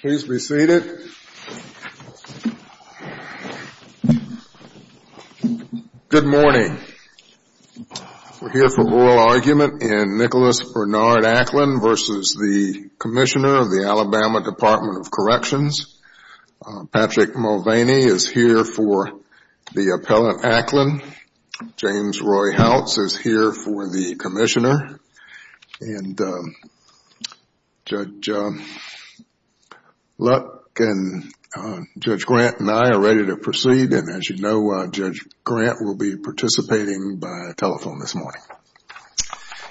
Please be seated. Good morning. We're here for oral argument in Nicholas Bernard Acklin v. the Commissioner of the Alabama Department of Corrections. Patrick Mulvaney is here for the Appellant Acklin. Judge Luck and Judge Grant and I are ready to proceed and as you know, Judge Grant will be participating by telephone this morning.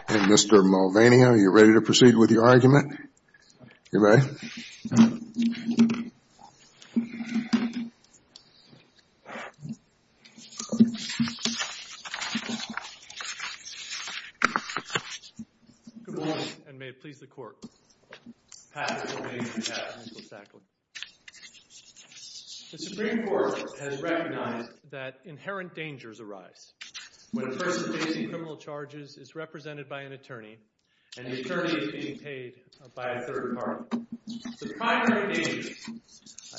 Mr. Mulvaney, are you ready to proceed with your argument? Good morning and may it please the Court, Patrick Mulvaney here at Nicholas Acklin. The Supreme Court has recognized that inherent dangers arise when a person facing criminal charges is represented by an attorney and the attorney is being paid by a third party. The primary danger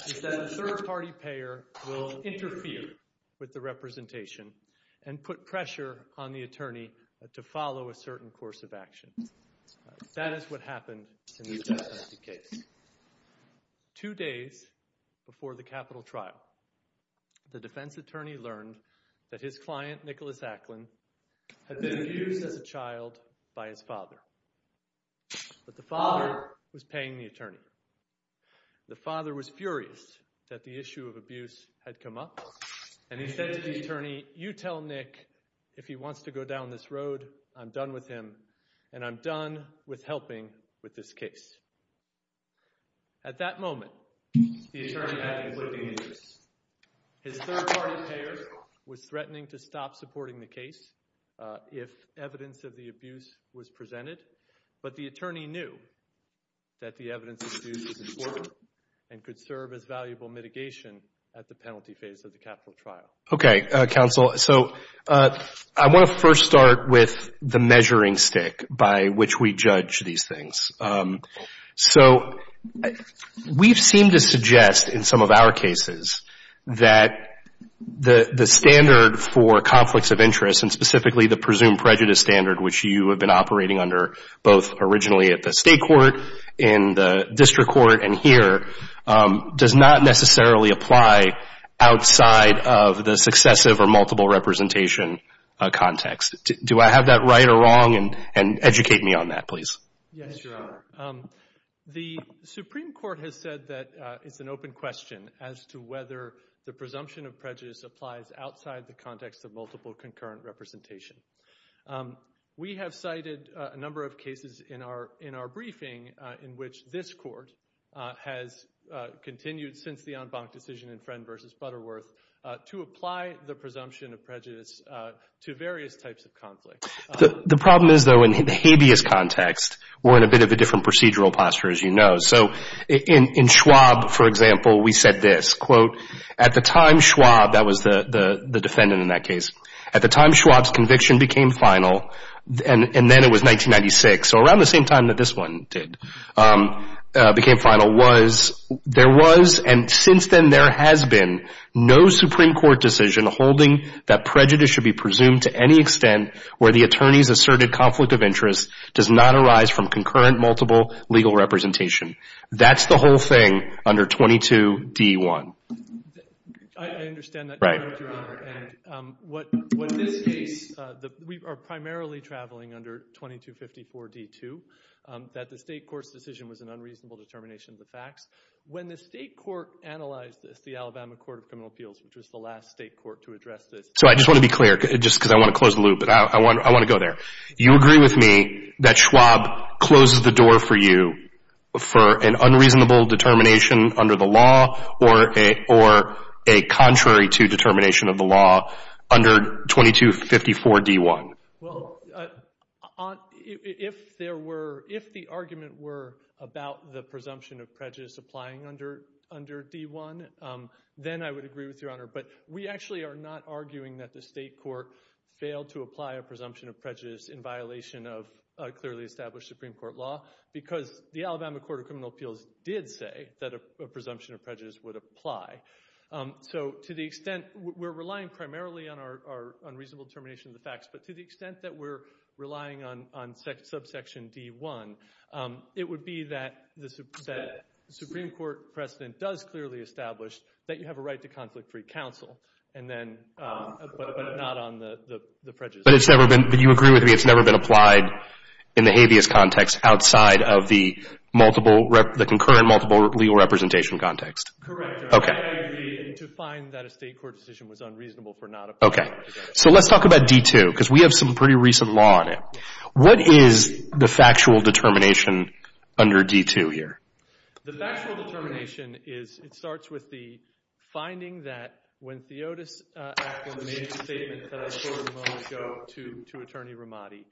is that the third party payer will interfere with the representation and put pressure on the attorney to follow a certain course of action. That is what happened in this death penalty case. Two days before the capital trial, the defense attorney learned that his client, Nicholas Acklin, had been abused as a child by his father, but the father was paying the attorney. The father was furious that the issue of abuse had come up and he said to the attorney, you tell Nick if he wants to go down this road, I'm done with him and I'm done with helping with this case. At that moment, the attorney had conflicting interests. His third party payer was threatening to stop supporting the case if evidence of the abuse was presented, but the attorney knew that the evidence of abuse was important and could serve as valuable mitigation at the penalty phase of the capital trial. Okay, counsel. So I want to first start with the measuring stick by which we judge these things. So we've seemed to suggest in some of our cases that the standard for conflicts of interest and specifically the presumed prejudice standard, which you have been operating under both originally at the state court, in the district court, and here, does not necessarily apply outside of the successive or multiple representation context. Do I have that right or wrong and educate me on that, please. Yes, Your Honor. The Supreme Court has said that it's an open question as to whether the presumption of prejudice applies outside the context of multiple concurrent representation. We have cited a number of cases in our briefing in which this court has continued since the en banc decision in Friend v. Butterworth to apply the presumption of prejudice to various types of conflicts. The problem is, though, in the habeas context, we're in a bit of a different procedural posture, as you know. So in Schwab, for example, we said this, quote, at the time Schwab, that was the defendant in that case, at the time Schwab's conviction became final, and then it was 1996, so around the same time that this one did, became final, was, there was and since then there has been no Supreme Court decision holding that prejudice should be presumed to any extent where the attorney's asserted conflict of interest does not arise from concurrent multiple legal representation. That's the whole thing under 22d1. I understand that, Your Honor, and what this case, we are primarily traveling under 2254d2, that the state court's decision was an unreasonable determination of the facts. When the state court analyzed this, the Alabama Court of Criminal Appeals, which was the last state court to address this. So I just want to be clear, just because I want to close the loop, but I want to go there. You agree with me that Schwab closes the door for you for an unreasonable determination under the law or a contrary to determination of the law under 2254d1? Well, if there were, if the argument were about the presumption of prejudice applying under d1, then I would agree with Your Honor. But we actually are not arguing that the state court failed to apply a presumption of prejudice in violation of a clearly established Supreme Court law because the Alabama Court of Criminal Appeals did say that a presumption of prejudice would apply. So to the extent, we're relying primarily on our unreasonable determination of the facts, but to the extent that we're relying on subsection d1, it would be that the Supreme Court precedent does clearly establish that you have a right to conflict-free counsel, and then, but not on the prejudice. But it's never been, do you agree with me, it's never been applied in the habeas context outside of the multiple, the concurrent multiple legal representation context? Correct, Your Honor. Okay. I agree to find that a state court decision was unreasonable for not applying. Okay. So let's talk about d2, because we have some pretty recent law on it. What is the factual determination under d2 here? The factual determination is, it starts with the finding that when Theotis Acton made the statement that I told you a moment ago to Attorney Ramadi,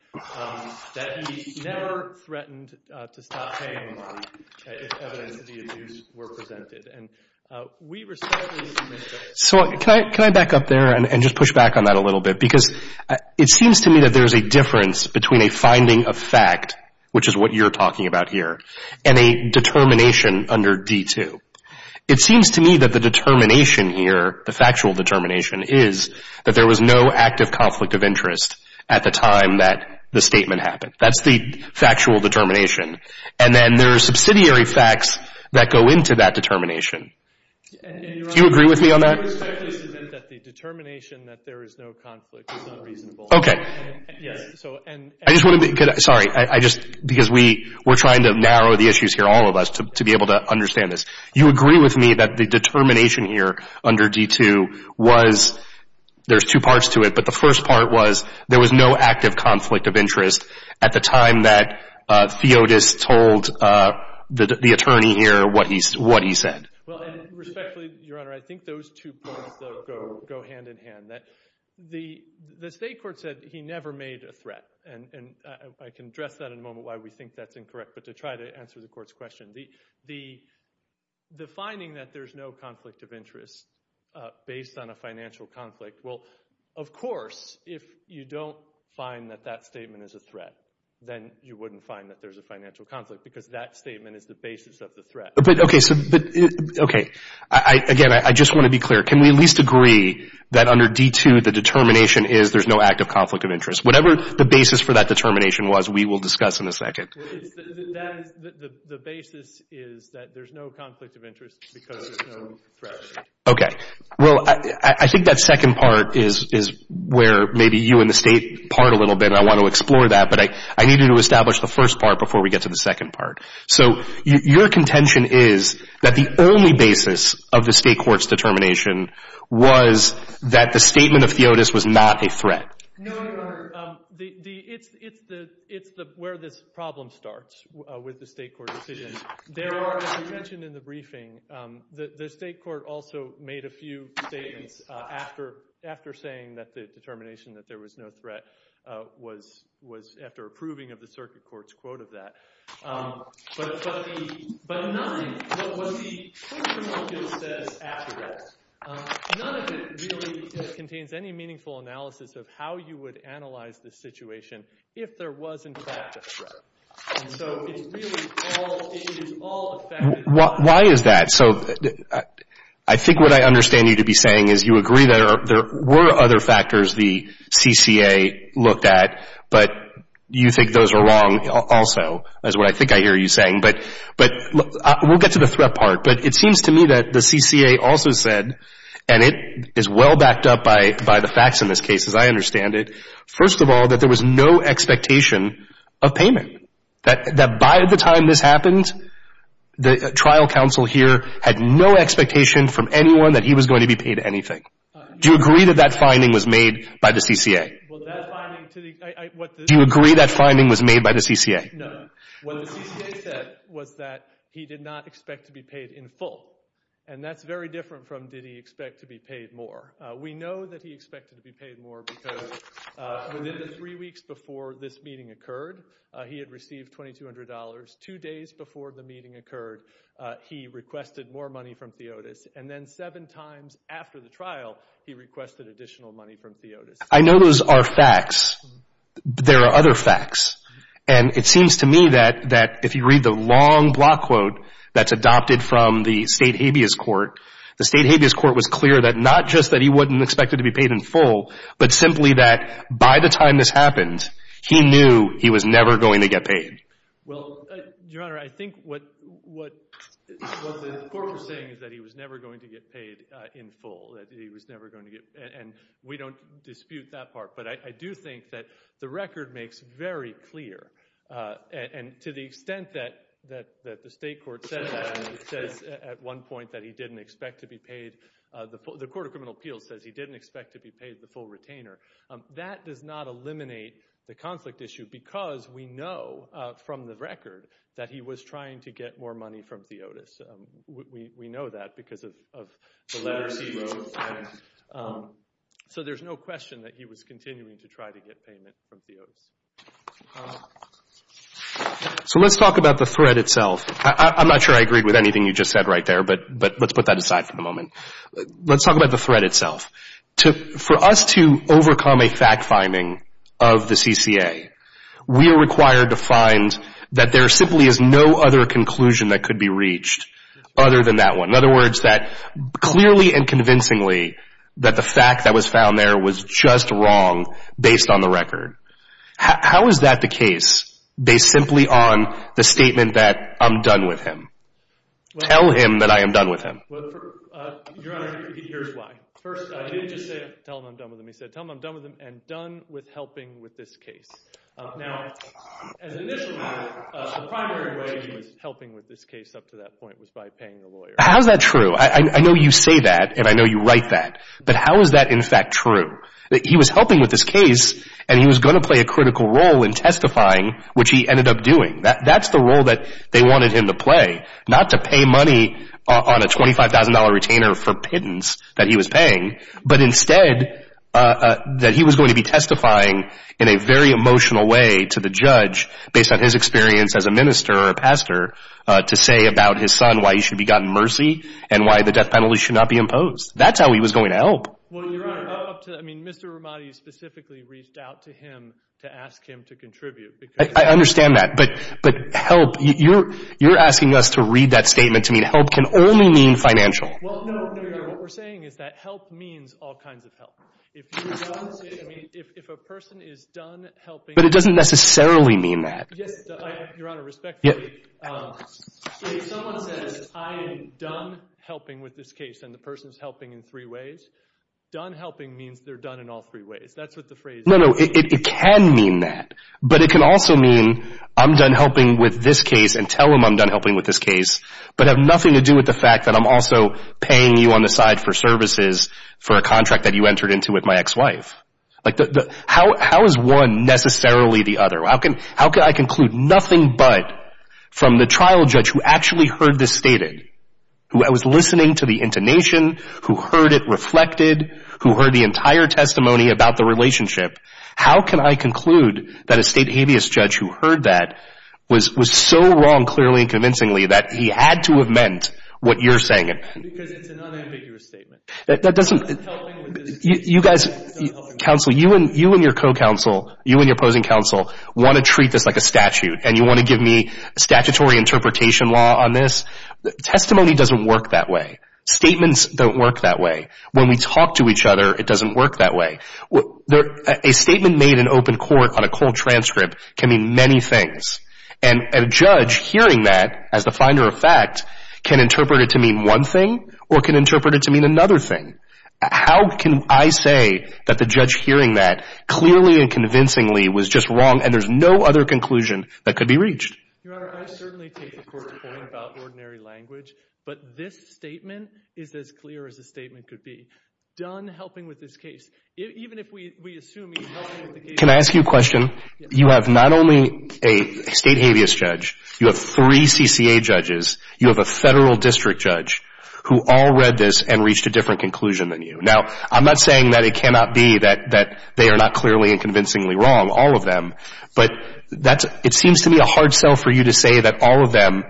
that he never threatened to stop paying Ramadi if evidence of the abuse were presented. And we were certainly in agreement about that. So can I back up there and just push back on that a little bit? Because it seems to me that there's a difference between a finding of fact, which is what you're talking about here, and a determination under d2. It seems to me that the determination here, the factual determination, is that there was no active conflict of interest at the time that the statement happened. That's the factual determination. And then there are subsidiary facts that go into that determination. Do you agree with me on that? Your Honor, it's fair to say that the determination that there is no conflict is unreasonable. Okay. Yes. I just want to be... Sorry. I just... Because we're trying to narrow the issues here, all of us, to be able to understand this. You agree with me that the determination here under d2 was... There's two parts to it. But the first part was, there was no active conflict of interest at the time that Theotis told the attorney here what he said. Well, and respectfully, Your Honor, I think those two parts go hand in hand. The state court said he never made a threat. And I can address that in a moment why we think that's incorrect, but to try to answer the court's question. The finding that there's no conflict of interest based on a financial conflict, well, of course, if you don't find that that statement is a threat, then you wouldn't find that there's a financial conflict, because that statement is the basis of the threat. Okay. So, but... Okay. Again, I just want to be clear. Can we at least agree that under d2, the determination is there's no active conflict of interest? Whatever the basis for that determination was, we will discuss in a second. The basis is that there's no conflict of interest because there's no threat. Okay. Well, I think that second part is where maybe you and the state part a little bit, and I want to explore that, but I need you to establish the first part before we get to the second part. So, your contention is that the only basis of the state court's determination was that the statement of Theotis was not a threat. No, Your Honor. It's where this problem starts with the state court decision. There are, as you mentioned in the briefing, the state court also made a few statements after saying that the determination that there was no threat was after approving of the circuit court's quote of that. But none, what was the key premonition that says after that, none of it really contains any meaningful analysis of how you would analyze this situation if there was, in fact, a threat. And so, it's really all, it is all a fact. Why is that? So, I think what I understand you to be saying is you agree that there were other factors the CCA looked at, but you think those are wrong also, is what I think I hear you saying. But we'll get to the threat part, but it seems to me that the CCA also said, and it is well backed up by the facts in this case as I understand it, first of all, that there was no expectation of payment. That by the time this happened, the trial counsel here had no expectation from anyone that he was going to be paid anything. Do you agree that that finding was made by the CCA? Well, that finding to the, I, what the. Do you agree that finding was made by the CCA? No. What the CCA said was that he did not expect to be paid in full. And that's very different from did he expect to be paid more. We know that he expected to be paid more because within the three weeks before this meeting occurred, he had received $2,200. Two days before the meeting occurred, he requested more money from Theotis. And then seven times after the trial, he requested additional money from Theotis. I know those are facts. There are other facts. And it seems to me that if you read the long block quote that's adopted from the State that he wasn't expected to be paid in full, but simply that by the time this happened, he knew he was never going to get paid. Well, Your Honor, I think what the court was saying is that he was never going to get paid in full. That he was never going to get. And we don't dispute that part. But I do think that the record makes very clear. And to the extent that the State court said that, and it says at one point that he didn't expect to be paid, the Court of Criminal Appeals says he didn't expect to be paid the full retainer, that does not eliminate the conflict issue because we know from the record that he was trying to get more money from Theotis. We know that because of the letters he wrote. So there's no question that he was continuing to try to get payment from Theotis. So let's talk about the threat itself. I'm not sure I agreed with anything you just said right there, but let's put that aside for the moment. Let's talk about the threat itself. For us to overcome a fact-finding of the CCA, we are required to find that there simply is no other conclusion that could be reached other than that one. In other words, that clearly and convincingly that the fact that was found there was just wrong based on the record. How is that the case, based simply on the statement that I'm done with him? Tell him that I am done with him. Your Honor, here's why. First, I didn't just say tell him I'm done with him, he said tell him I'm done with him and done with helping with this case. Now, as initially, the primary way he was helping with this case up to that point was by paying the lawyer. How is that true? I know you say that and I know you write that, but how is that in fact true? He was helping with this case and he was going to play a critical role in testifying, which he ended up doing. That's the role that they wanted him to play, not to pay money on a $25,000 retainer for pittance that he was paying, but instead that he was going to be testifying in a very emotional way to the judge based on his experience as a minister or a pastor to say about his son why he should be gotten mercy and why the death penalty should not be imposed. That's how he was going to help. Well, Your Honor, up to that, I mean, Mr. Ramadi specifically reached out to him to ask him to contribute because- I understand that, but help, you're asking us to read that statement to mean help can only mean financial. Well, no, no, Your Honor. What we're saying is that help means all kinds of help. If you don't say, I mean, if a person is done helping- But it doesn't necessarily mean that. Yes, Your Honor, respectfully. So if someone says I am done helping with this case and the person is helping in three ways, done helping means they're done in all three ways. That's what the phrase is. No, no. It can mean that, but it can also mean I'm done helping with this case and tell him I'm done helping with this case, but have nothing to do with the fact that I'm also paying you on the side for services for a contract that you entered into with my ex-wife. How is one necessarily the other? How can I conclude nothing but from the trial judge who actually heard this stated, who was listening to the intonation, who heard it reflected, who heard the entire testimony about the relationship, how can I conclude that a state habeas judge who heard that was so wrong clearly and convincingly that he had to have meant what you're saying? Because it's an unambiguous statement. You guys, counsel, you and your co-counsel, you and your opposing counsel, want to treat this like a statute and you want to give me a statutory interpretation law on this. Testimony doesn't work that way. Statements don't work that way. When we talk to each other, it doesn't work that way. A statement made in open court on a cold transcript can mean many things, and a judge hearing that as the finder of fact can interpret it to mean one thing or can interpret it to mean another thing. How can I say that the judge hearing that clearly and convincingly was just wrong and there's no other conclusion that could be reached? Your Honor, I certainly take the Court's point about ordinary language, but this statement is as clear as a statement could be. Don helping with this case, even if we assume he's helping with the case. Can I ask you a question? You have not only a state habeas judge, you have three CCA judges, you have a federal district judge who all read this and reached a different conclusion than you. Now, I'm not saying that it cannot be that they are not clearly and convincingly wrong, all of them, but it seems to me a hard sell for you to say that all of them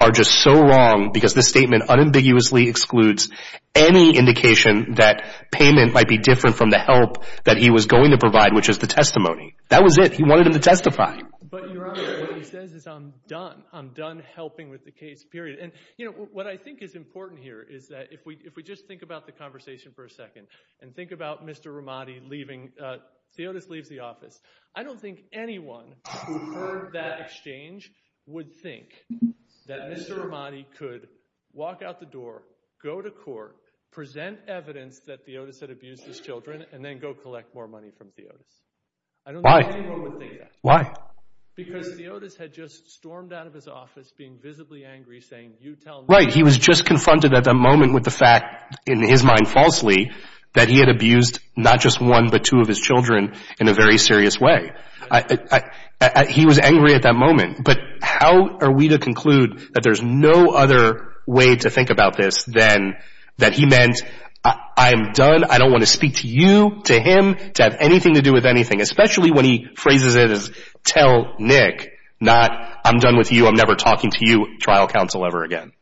are just so wrong because this statement unambiguously excludes any indication that payment might be different from the help that he was going to provide, which is the testimony. That was it. He wanted him to testify. But, Your Honor, what he says is I'm done. I'm done helping with the case, period. And, you know, what I think is important here is that if we just think about the conversation for a second and think about Mr. Ramadi leaving, Theotis leaves the office, I don't think anyone who heard that exchange would think that Mr. Ramadi could walk out the door, go to court, present evidence that Theotis had abused his children, and then go collect more money from Theotis. I don't think anyone would think that. Why? Why? Because Theotis had just stormed out of his office being visibly angry saying, you tell me. Right. He was just confronted at that moment with the fact, in his mind falsely, that he had abused not just one but two of his children in a very serious way. He was angry at that moment. But how are we to conclude that there's no other way to think about this than that he meant I'm done, I don't want to speak to you, to him, to have anything to do with anything, especially when he phrases it as tell Nick, not I'm done with you, I'm never talking to you trial counsel ever again.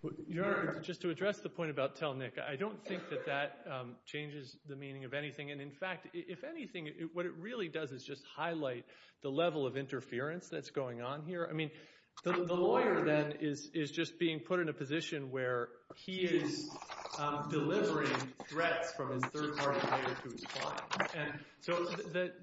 Just to address the point about tell Nick, I don't think that that changes the meaning of anything. And in fact, if anything, what it really does is just highlight the level of interference that's going on here. I mean, the lawyer then is just being put in a position where he is delivering threats from his third party lawyer to his client. So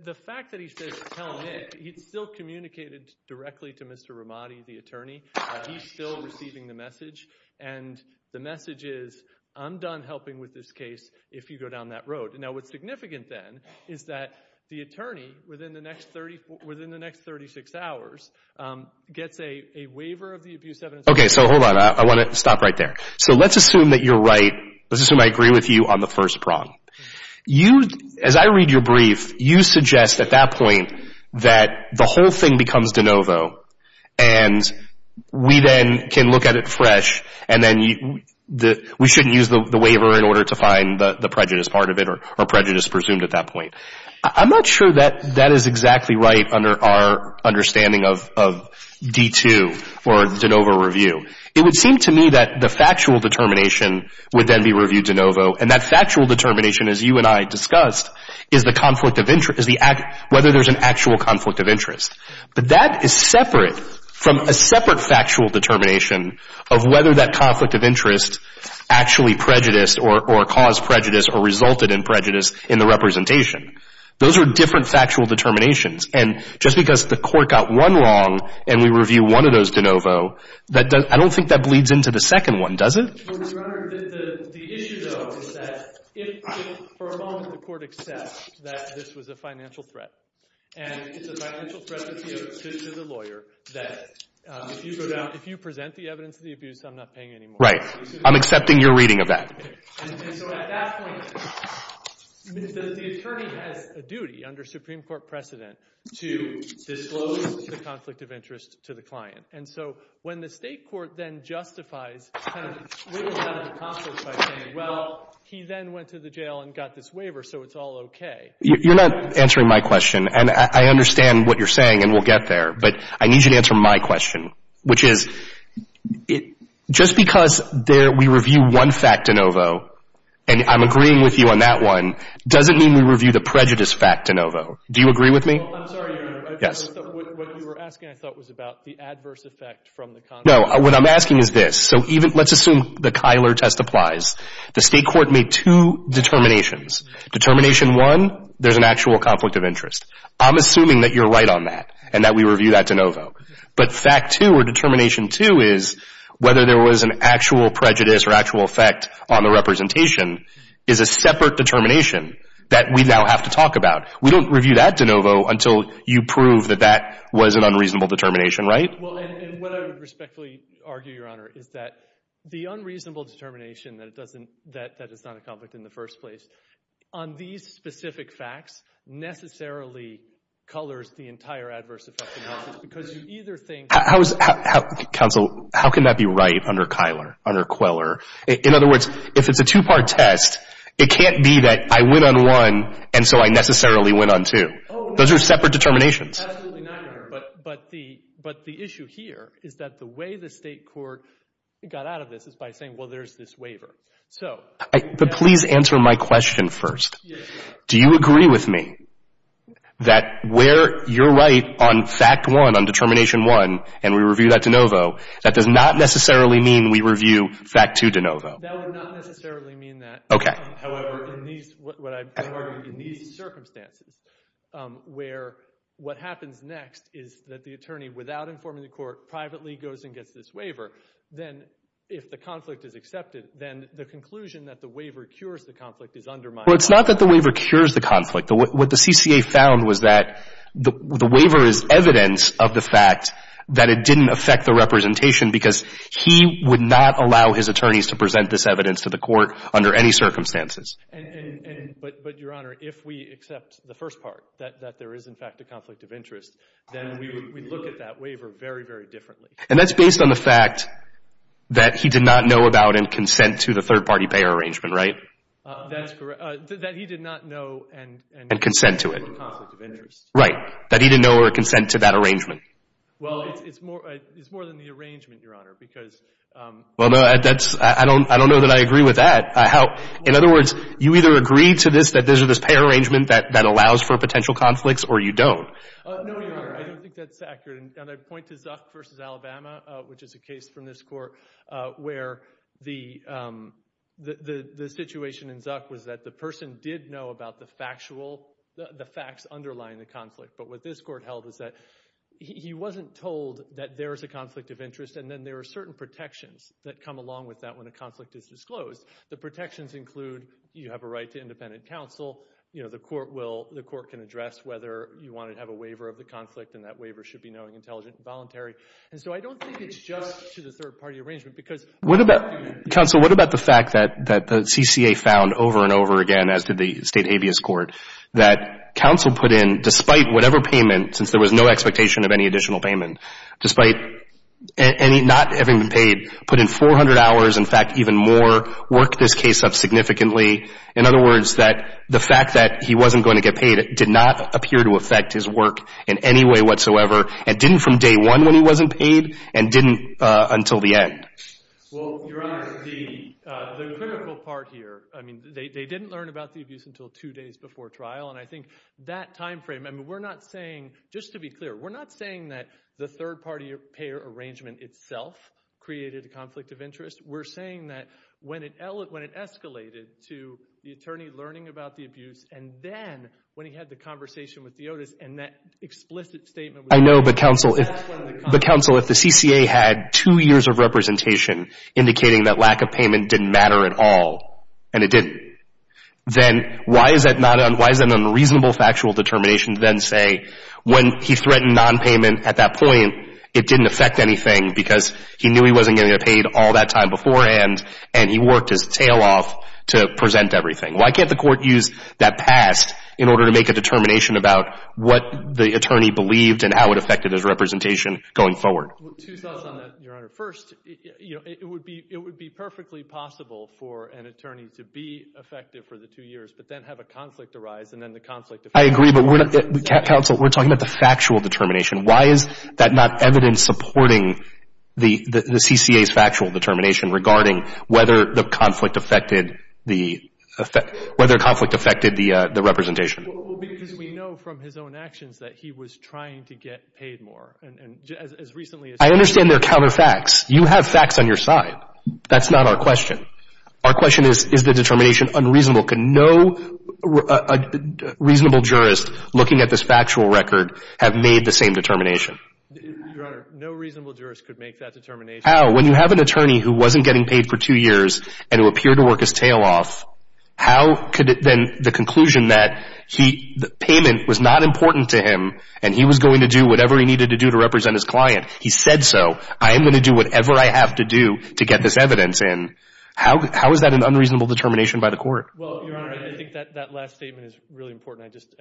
the fact that he says tell Nick, he still communicated directly to Mr. Ramadi, the attorney. He's still receiving the message. And the message is, I'm done helping with this case if you go down that road. Now, what's significant then is that the attorney, within the next 36 hours, gets a waiver of the abuse evidence. OK, so hold on. I want to stop right there. So let's assume that you're right. Let's assume I agree with you on the first prong. As I read your brief, you suggest at that point that the whole thing becomes de novo. And we then can look at it fresh, and then we shouldn't use the waiver in order to find the prejudice part of it or prejudice presumed at that point. I'm not sure that that is exactly right under our understanding of D2 or de novo review. It would seem to me that the factual determination would then be reviewed de novo. And that factual determination, as you and I discussed, is whether there's an actual conflict of interest. But that is separate from a separate factual determination of whether that conflict of interest actually prejudiced or caused prejudice or resulted in prejudice in the representation. Those are different factual determinations. And just because the court got one wrong and we review one of those de novo, I don't think that bleeds into the second one, does it? Well, Your Honor, the issue, though, is that if, for a moment, the court accepts that this was a financial threat. And it's a financial threat to the lawyer that if you present the evidence of the abuse, I'm not paying any more. Right. I'm accepting your reading of that. And so at that point, the attorney has a duty under Supreme Court precedent to disclose the conflict of interest to the client. And so when the state court then justifies, kind of, wiggles out of the conflict by saying, well, he then went to the jail and got this waiver, so it's all OK. You're not answering my question. And I understand what you're saying, and we'll get there. But I need you to answer my question, which is, just because we review one fact de novo, and I'm agreeing with you on that one, doesn't mean we review the prejudice fact de novo. Do you agree with me? I'm sorry, Your Honor. Yes. What you were asking, I thought, was about the adverse effect from the conflict. No. What I'm asking is this. So let's assume the Kyler test applies. The state court made two determinations. Determination one, there's an actual conflict of interest. I'm assuming that you're right on that, and that we review that de novo. But fact two, or determination two, is whether there was an actual prejudice or actual effect on the representation is a separate determination that we now have to talk about. We don't review that de novo until you prove that that was an unreasonable determination, right? Well, and what I would respectfully argue, Your Honor, is that the unreasonable determination that it doesn't, that it's not a conflict in the first place, on these specific facts, necessarily colors the entire adverse effect analysis, because you either think... Counsel, how can that be right under Kyler, under Queller? In other words, if it's a two-part test, it can't be that I win on one, and so I necessarily Those are separate determinations. Oh, no. Absolutely not, Your Honor. But the issue here is that the way the state court got out of this is by saying, well, there's this waiver. So... But please answer my question first. Do you agree with me that where you're right on fact one, on determination one, and we review that de novo, that does not necessarily mean we review fact two de novo? That would not necessarily mean that. Okay. However, in these, what I argue, in these circumstances, where what happens next is that the attorney, without informing the court, privately goes and gets this waiver, then if the conflict is accepted, then the conclusion that the waiver cures the conflict is undermined. Well, it's not that the waiver cures the conflict. What the CCA found was that the waiver is evidence of the fact that it didn't affect the representation because he would not allow his attorneys to present this evidence to the court under any circumstances. But Your Honor, if we accept the first part, that there is, in fact, a conflict of interest, then we look at that waiver very, very differently. And that's based on the fact that he did not know about and consent to the third-party payer arrangement, right? That's correct. That he did not know and consent to it. A conflict of interest. Right. That he didn't know or consent to that arrangement. Well, it's more, it's more than the arrangement, Your Honor, because... Well, no, that's, I don't, I don't know that I agree with that. How, in other words, you either agree to this, that there's this payer arrangement that, that allows for potential conflicts, or you don't? No, Your Honor, I don't think that's accurate. And I'd point to Zuck versus Alabama, which is a case from this court, where the, the situation in Zuck was that the person did know about the factual, the facts underlying the conflict. But what this court held is that he wasn't told that there is a conflict of interest, and then there are certain protections that come along with that when a conflict is disclosed. The protections include, you have a right to independent counsel, you know, the court will, the court can address whether you want to have a waiver of the conflict, and that is something intelligent and voluntary. And so I don't think it's just to the third-party arrangement, because... What about, counsel, what about the fact that, that the CCA found over and over again, as did the State Habeas Court, that counsel put in, despite whatever payment, since there was no expectation of any additional payment, despite any, not having been paid, put in 400 hours, in fact, even more, worked this case up significantly. In other words, that the fact that he wasn't going to get paid did not appear to affect his work in any way whatsoever, and didn't from day one when he wasn't paid, and didn't until the end. Well, Your Honor, the, the critical part here, I mean, they, they didn't learn about the abuse until two days before trial, and I think that time frame, and we're not saying, just to be clear, we're not saying that the third-party payer arrangement itself created a conflict of interest. We're saying that when it, when it escalated to the attorney learning about the abuse, and then, when he had the conversation with DeOtis, and that explicit statement was... I know, but counsel, if... That's one of the... But, counsel, if the CCA had two years of representation indicating that lack of payment didn't matter at all, and it didn't, then why is that not, why is that an unreasonable factual determination to then say, when he threatened nonpayment at that point, it didn't affect anything because he knew he wasn't going to get paid all that time beforehand, and he worked his tail off to present everything? Why can't the court use that past in order to make a determination about what the attorney believed and how it affected his representation going forward? Two thoughts on that, Your Honor. First, you know, it would be, it would be perfectly possible for an attorney to be effective for the two years, but then have a conflict arise, and then the conflict... I agree, but we're not, counsel, we're talking about the factual determination. Why is that not evidence supporting the, the CCA's factual determination regarding whether the conflict affected the, whether conflict affected the representation? Well, because we know from his own actions that he was trying to get paid more, and as recently as... I understand they're counterfacts. You have facts on your side. That's not our question. Our question is, is the determination unreasonable? Can no reasonable jurist, looking at this factual record, have made the same determination? Your Honor, no reasonable jurist could make that determination. How? When you have an attorney who wasn't getting paid for two years, and who appeared to work his tail off, how could it then, the conclusion that he, the payment was not important to him, and he was going to do whatever he needed to do to represent his client. He said so. I am going to do whatever I have to do to get this evidence in. How, how is that an unreasonable determination by the court? Well, Your Honor, I think that, that last statement is really important. I just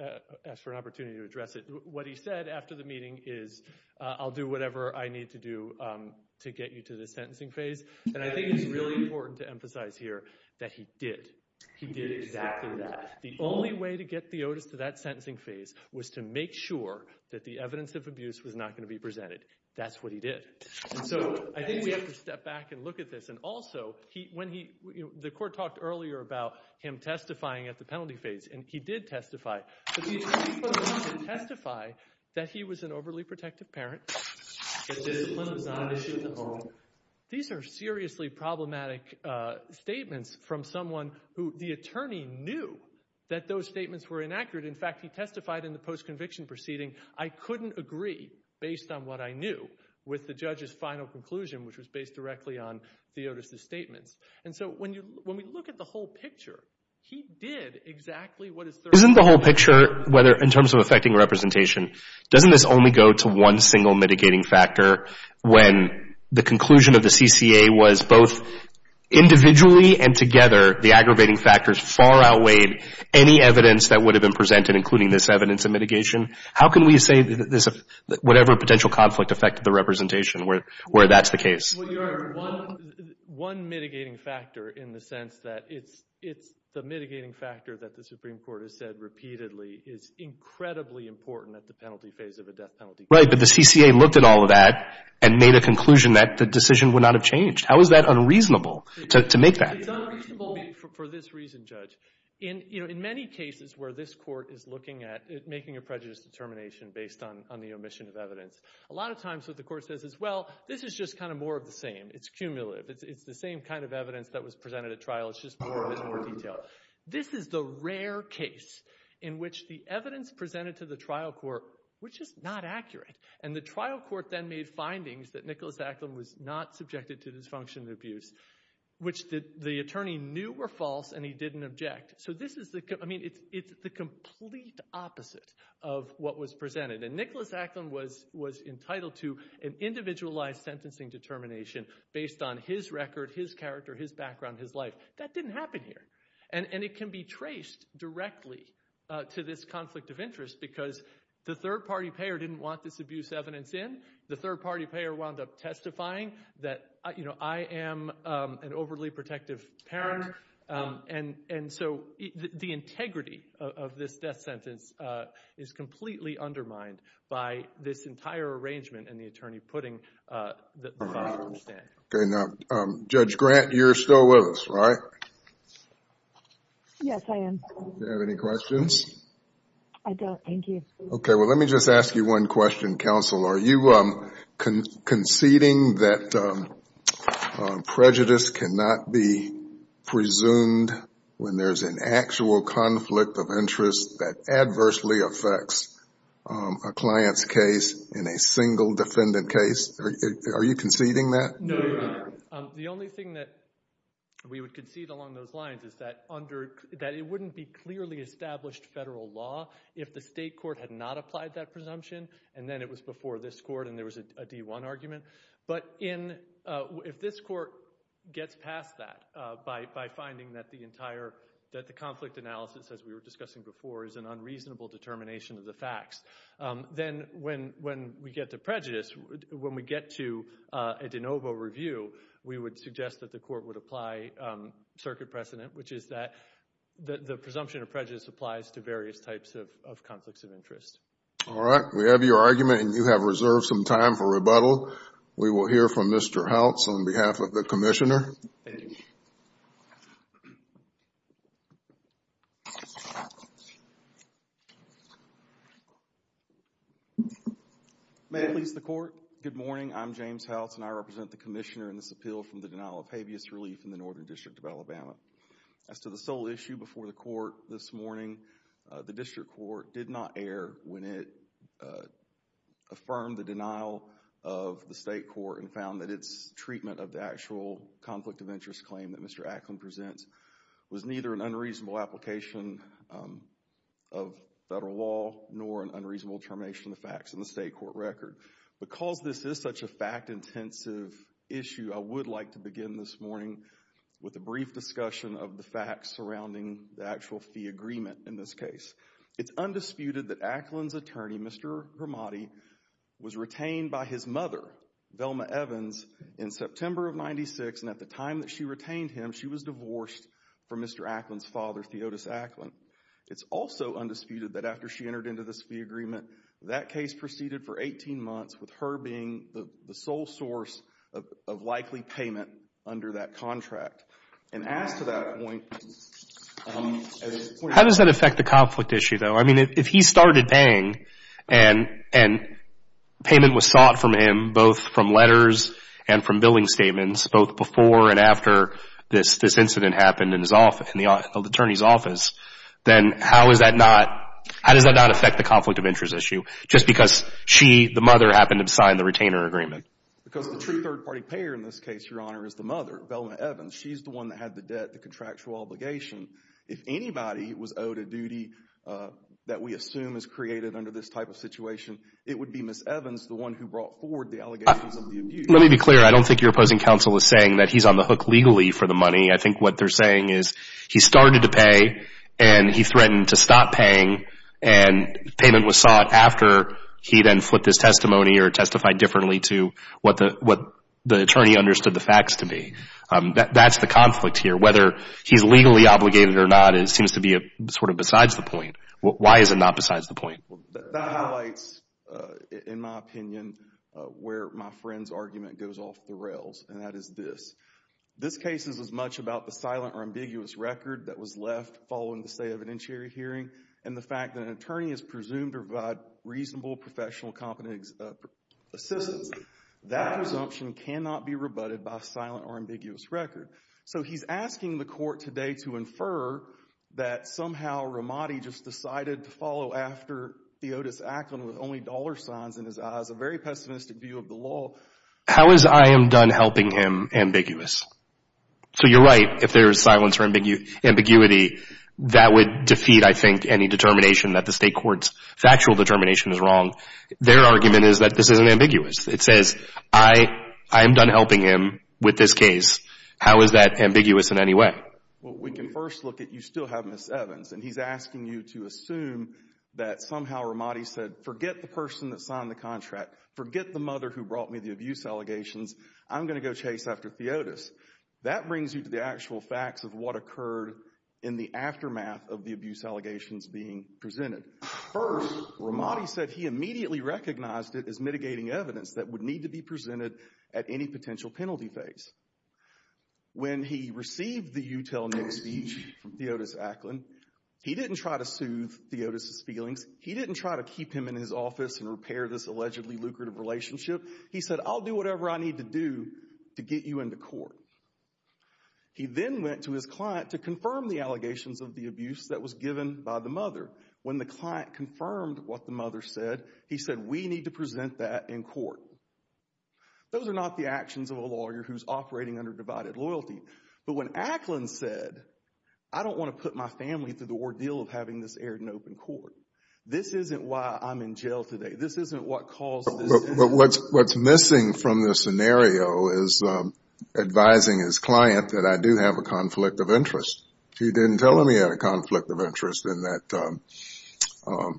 asked for an opportunity to address it. What he said after the meeting is, I'll do whatever I need to do to get you to the sentencing phase. And I think it's really important to emphasize here that he did. He did exactly that. The only way to get Theotis to that sentencing phase was to make sure that the evidence of abuse was not going to be presented. That's what he did. And so, I think we have to step back and look at this, and also, he, when he, the court talked earlier about him testifying at the penalty phase, and he did testify. But the attorney put it out to testify that he was an overly protective parent, that discipline was not an issue at the home. These are seriously problematic statements from someone who, the attorney knew that those statements were inaccurate. In fact, he testified in the post-conviction proceeding, I couldn't agree, based on what I knew, with the judge's final conclusion, which was based directly on Theotis' statements. And so, when you, when we look at the whole picture, he did exactly what is there. Isn't the whole picture, whether, in terms of affecting representation, doesn't this only go to one single mitigating factor when the conclusion of the CCA was both individually and together, the aggravating factors far outweighed any evidence that would have been presented, including this evidence of mitigation? How can we say that this, whatever potential conflict affected the representation where that's the case? Well, you are one, one mitigating factor in the sense that it's, it's the mitigating factor that the Supreme Court has said repeatedly is incredibly important at the penalty phase of a death penalty case. Right, but the CCA looked at all of that and made a conclusion that the decision would not have changed. How is that unreasonable to, to make that? It's unreasonable for, for this reason, Judge. In, you know, in many cases where this court is looking at making a prejudice determination based on, on the omission of evidence, a lot of times what the court says is, well, this is just kind of more of the same. It's cumulative. It's, it's the same kind of evidence that was presented at trial, it's just more, it's more detailed. So this is the rare case in which the evidence presented to the trial court, which is not accurate and the trial court then made findings that Nicholas Acklin was not subjected to dysfunction and abuse, which the attorney knew were false and he didn't object. So this is the, I mean, it's, it's the complete opposite of what was presented and Nicholas Acklin was, was entitled to an individualized sentencing determination based on his record, his character, his background, his life. That didn't happen here. And, and it can be traced directly to this conflict of interest because the third party payer didn't want this abuse evidence in. The third party payer wound up testifying that, you know, I am an overly protective parent. And, and so the integrity of this death sentence is completely undermined by this entire arrangement and the attorney putting the files on the stand. Okay. Now, Judge Grant, you're still with us, right? Yes, I am. Do you have any questions? I don't. Thank you. Okay. Well, let me just ask you one question, counsel. Are you conceding that prejudice cannot be presumed when there's an actual conflict of interest that adversely affects a client's case in a single defendant case? Are you conceding that? No, Your Honor. The only thing that we would concede along those lines is that under, that it wouldn't be clearly established federal law if the state court had not applied that presumption and then it was before this court and there was a D1 argument. But in, if this court gets past that by, by finding that the entire, that the conflict analysis, as we were discussing before, is an unreasonable determination of the facts, then when, when we get to prejudice, when we get to a de novo review, we would suggest that the court would apply circuit precedent, which is that the, the presumption of prejudice applies to various types of, of conflicts of interest. All right. We have your argument and you have reserved some time for rebuttal. We will hear from Mr. Hautz on behalf of the commissioner. Thank you. May it please the court, good morning, I'm James Hautz and I represent the commissioner in this appeal from the denial of habeas relief in the Northern District of Alabama. As to the sole issue before the court this morning, the district court did not err when it affirmed the denial of the state court and found that its treatment of the actual conflict of interest claim that Mr. Ackland presents was neither an unreasonable application of federal law nor an unreasonable determination of the facts in the state court record. Because this is such a fact intensive issue, I would like to begin this morning with a brief discussion of the facts surrounding the actual fee agreement in this case. It's undisputed that Ackland's attorney, Mr. Hermadi, was retained by his mother, Velma Evans, in September of 96 and at the time that she retained him, she was divorced from Mr. Ackland's father, Theodosius Ackland. It's also undisputed that after she entered into this fee agreement, that case proceeded for 18 months with her being the sole source of likely payment under that contract. And as to that point, at this point... How does that affect the conflict issue though? I mean, if he started paying and payment was sought from him, both from letters and from the attorney's office, then how does that not affect the conflict of interest issue? Just because she, the mother, happened to sign the retainer agreement. Because the true third party payer in this case, Your Honor, is the mother, Velma Evans. She's the one that had the debt, the contractual obligation. If anybody was owed a duty that we assume is created under this type of situation, it would be Ms. Evans, the one who brought forward the allegations of the abuse. Let me be clear. I don't think your opposing counsel is saying that he's on the hook legally for the money. I think what they're saying is he started to pay and he threatened to stop paying and payment was sought after he then flipped his testimony or testified differently to what the attorney understood the facts to be. That's the conflict here. Whether he's legally obligated or not, it seems to be sort of besides the point. Why is it not besides the point? That highlights, in my opinion, where my friend's argument goes off the rails, and that is this. This case is as much about the silent or ambiguous record that was left following the state evidentiary hearing and the fact that an attorney is presumed to provide reasonable professional competence assistance. That presumption cannot be rebutted by a silent or ambiguous record. So he's asking the court today to infer that somehow Ramadi just decided to follow after Theotis Acklin with only dollar signs in his eyes, a very pessimistic view of the law. How is I am done helping him ambiguous? So you're right if there's silence or ambiguity, that would defeat, I think, any determination that the state court's factual determination is wrong. Their argument is that this isn't ambiguous. It says I am done helping him with this case. How is that ambiguous in any way? We can first look at you still have Ms. Evans and he's asking you to assume that somehow Ramadi said forget the person that signed the contract. Forget the mother who brought me the abuse allegations. I'm going to go chase after Theotis. That brings you to the actual facts of what occurred in the aftermath of the abuse allegations being presented. First, Ramadi said he immediately recognized it as mitigating evidence that would need to be presented at any potential penalty phase. When he received the you tell Nick speech from Theotis Acklin, he didn't try to soothe Theotis' feelings. He didn't try to keep him in his office and repair this allegedly lucrative relationship. He said I'll do whatever I need to do to get you into court. He then went to his client to confirm the allegations of the abuse that was given by the mother. When the client confirmed what the mother said, he said we need to present that in court. Those are not the actions of a lawyer who's operating under divided loyalty. But when Acklin said I don't want to put my family through the ordeal of having this aired in open court, this isn't why I'm in jail today. This isn't what caused this. What's missing from this scenario is advising his client that I do have a conflict of interest. He didn't tell him he had a conflict of interest in that,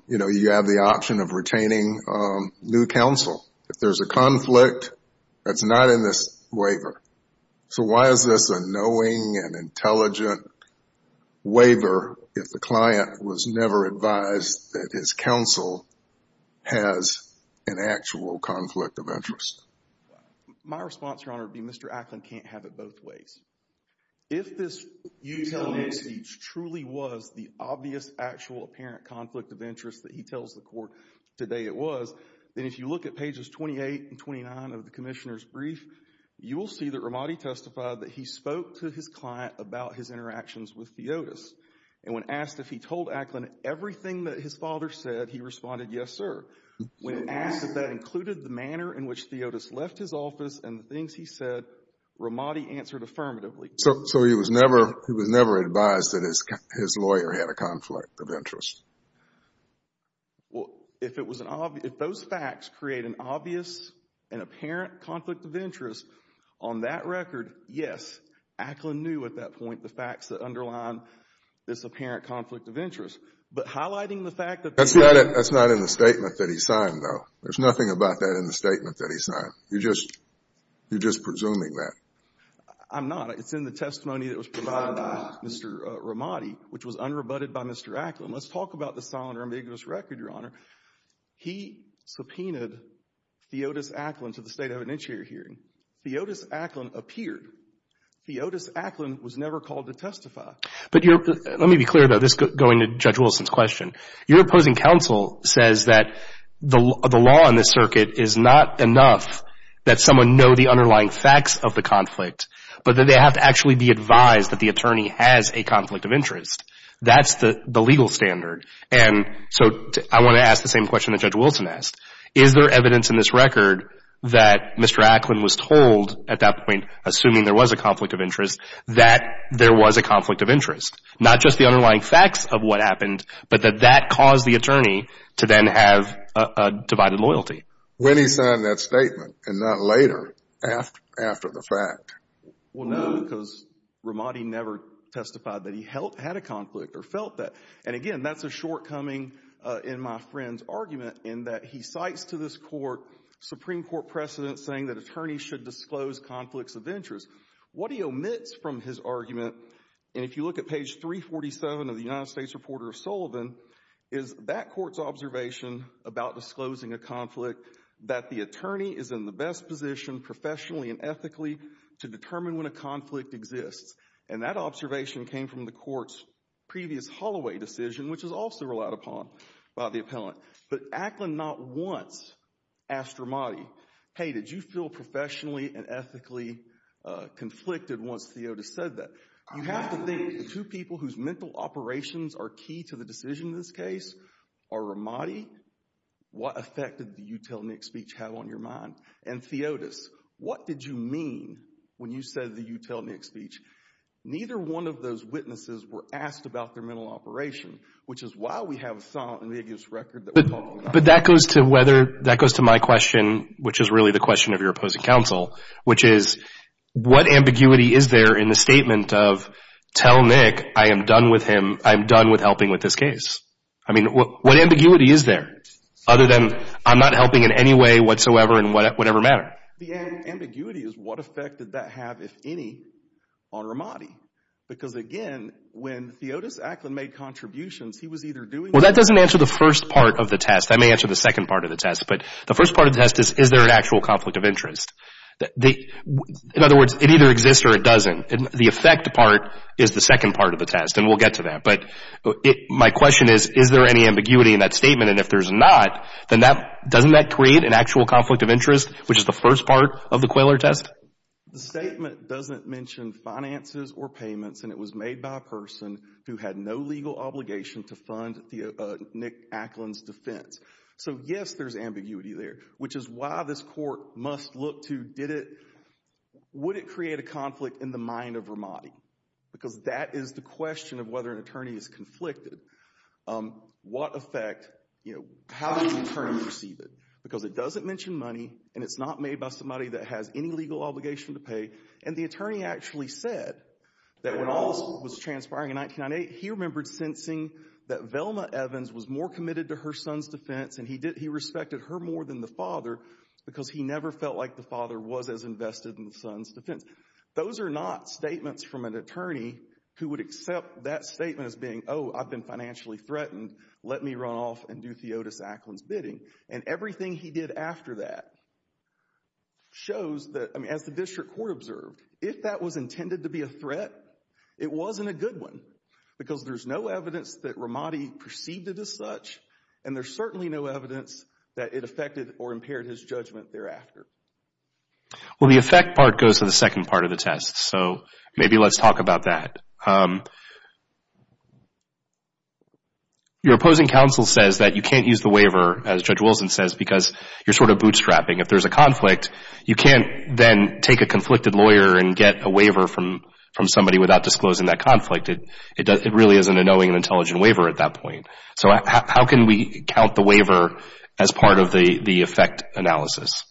you know, you have the option of retaining new counsel. If there's a conflict, it's not in this waiver. So why is this a knowing and intelligent waiver if the client was never advised that his counsel has an actual conflict of interest? My response, Your Honor, would be Mr. Acklin can't have it both ways. If this you telling me speech truly was the obvious, actual, apparent conflict of interest that he tells the court today it was, then if you look at pages 28 and 29 of the commissioner's review that Ramadi testified that he spoke to his client about his interactions with Theotis, and when asked if he told Acklin everything that his father said, he responded yes, sir. When asked if that included the manner in which Theotis left his office and the things he said, Ramadi answered affirmatively. So he was never, he was never advised that his lawyer had a conflict of interest? Well, if it was an obvious, if those facts create an obvious and apparent conflict of interest, on that record, yes, Acklin knew at that point the facts that underline this apparent conflict of interest. But highlighting the fact that they were That's not, that's not in the statement that he signed, though. There's nothing about that in the statement that he signed. You're just, you're just presuming that. I'm not. It's in the testimony that was provided by Mr. Ramadi, which was unrebutted by Mr. Acklin. Let's talk about the solid or ambiguous record, Your Honor. He subpoenaed Theotis Acklin to the State of Administrative Hearing. Theotis Acklin appeared. Theotis Acklin was never called to testify. But your, let me be clear, though, this going to Judge Wilson's question. Your opposing counsel says that the law in this circuit is not enough that someone know the underlying facts of the conflict, but that they have to actually be advised that the attorney has a conflict of interest. That's the legal standard. And so I want to ask the same question that Judge Wilson asked. Is there evidence in this record that Mr. Acklin was told at that point, assuming there was a conflict of interest, that there was a conflict of interest? Not just the underlying facts of what happened, but that that caused the attorney to then have a divided loyalty. When he signed that statement, and not later, after the fact? Well, no, because Ramadi never testified that he had a conflict or felt that. And again, that's a shortcoming in my friend's argument, in that he cites to this court Supreme Court precedent saying that attorneys should disclose conflicts of interest. What he omits from his argument, and if you look at page 347 of the United States Reporter of Sullivan, is that court's observation about disclosing a conflict that the attorney is in the best position professionally and determined when a conflict exists. And that observation came from the court's previous Holloway decision, which was also relied upon by the appellant. But Acklin not once asked Ramadi, hey, did you feel professionally and ethically conflicted once Theotis said that? You have to think, the two people whose mental operations are key to the decision in this case are Ramadi, what effect did you tell Nick's speech have on your mind? And Theotis, what did you mean when you said that you tell Nick's speech? Neither one of those witnesses were asked about their mental operation, which is why we have a solemn and vigorous record that we're talking about. But that goes to whether, that goes to my question, which is really the question of your opposing counsel. Which is, what ambiguity is there in the statement of, tell Nick, I am done with him, I am done with helping with this case? I mean, what ambiguity is there? Other than, I'm not helping in any way whatsoever in whatever matter. The ambiguity is what effect did that have, if any, on Ramadi? Because again, when Theotis Acklin made contributions, he was either doing- Well, that doesn't answer the first part of the test. That may answer the second part of the test. But the first part of the test is, is there an actual conflict of interest? In other words, it either exists or it doesn't. The effect part is the second part of the test, and we'll get to that. But my question is, is there any ambiguity in that statement? And if there's not, then that, doesn't that create an actual conflict of interest, which is the first part of the Quayler test? The statement doesn't mention finances or payments, and it was made by a person who had no legal obligation to fund Nick Acklin's defense. So yes, there's ambiguity there, which is why this court must look to, did it, would it create a conflict in the mind of Ramadi? Because that is the question of whether an attorney is conflicted. What effect, how does the attorney perceive it? Because it doesn't mention money, and it's not made by somebody that has any legal obligation to pay. And the attorney actually said that when all this was transpiring in 1998, he remembered sensing that Velma Evans was more committed to her son's defense, and he respected her more than the father, because he never felt like the father was as invested in the son's defense. Those are not statements from an attorney who would accept that statement as being, oh, I've been financially threatened, let me run off and do Theotis Acklin's bidding. And everything he did after that shows that, I mean, as the district court observed, if that was intended to be a threat, it wasn't a good one, because there's no evidence that Ramadi perceived it as such, and there's certainly no evidence that it affected or impaired his judgment thereafter. Well, the effect part goes to the second part of the test, so maybe let's talk about that. Your opposing counsel says that you can't use the waiver, as Judge Wilson says, because you're sort of bootstrapping. If there's a conflict, you can't then take a conflicted lawyer and get a waiver from somebody without disclosing that conflict. It really isn't a knowing and intelligent waiver at that point. So how can we count the waiver as part of the effect analysis?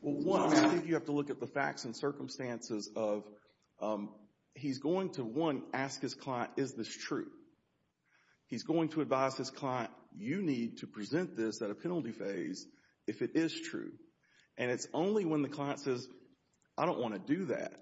Well, one, I think you have to look at the facts and circumstances of, he's going to, one, ask his client, is this true? He's going to advise his client, you need to present this at a penalty phase if it is true. And it's only when the client says, I don't want to do that,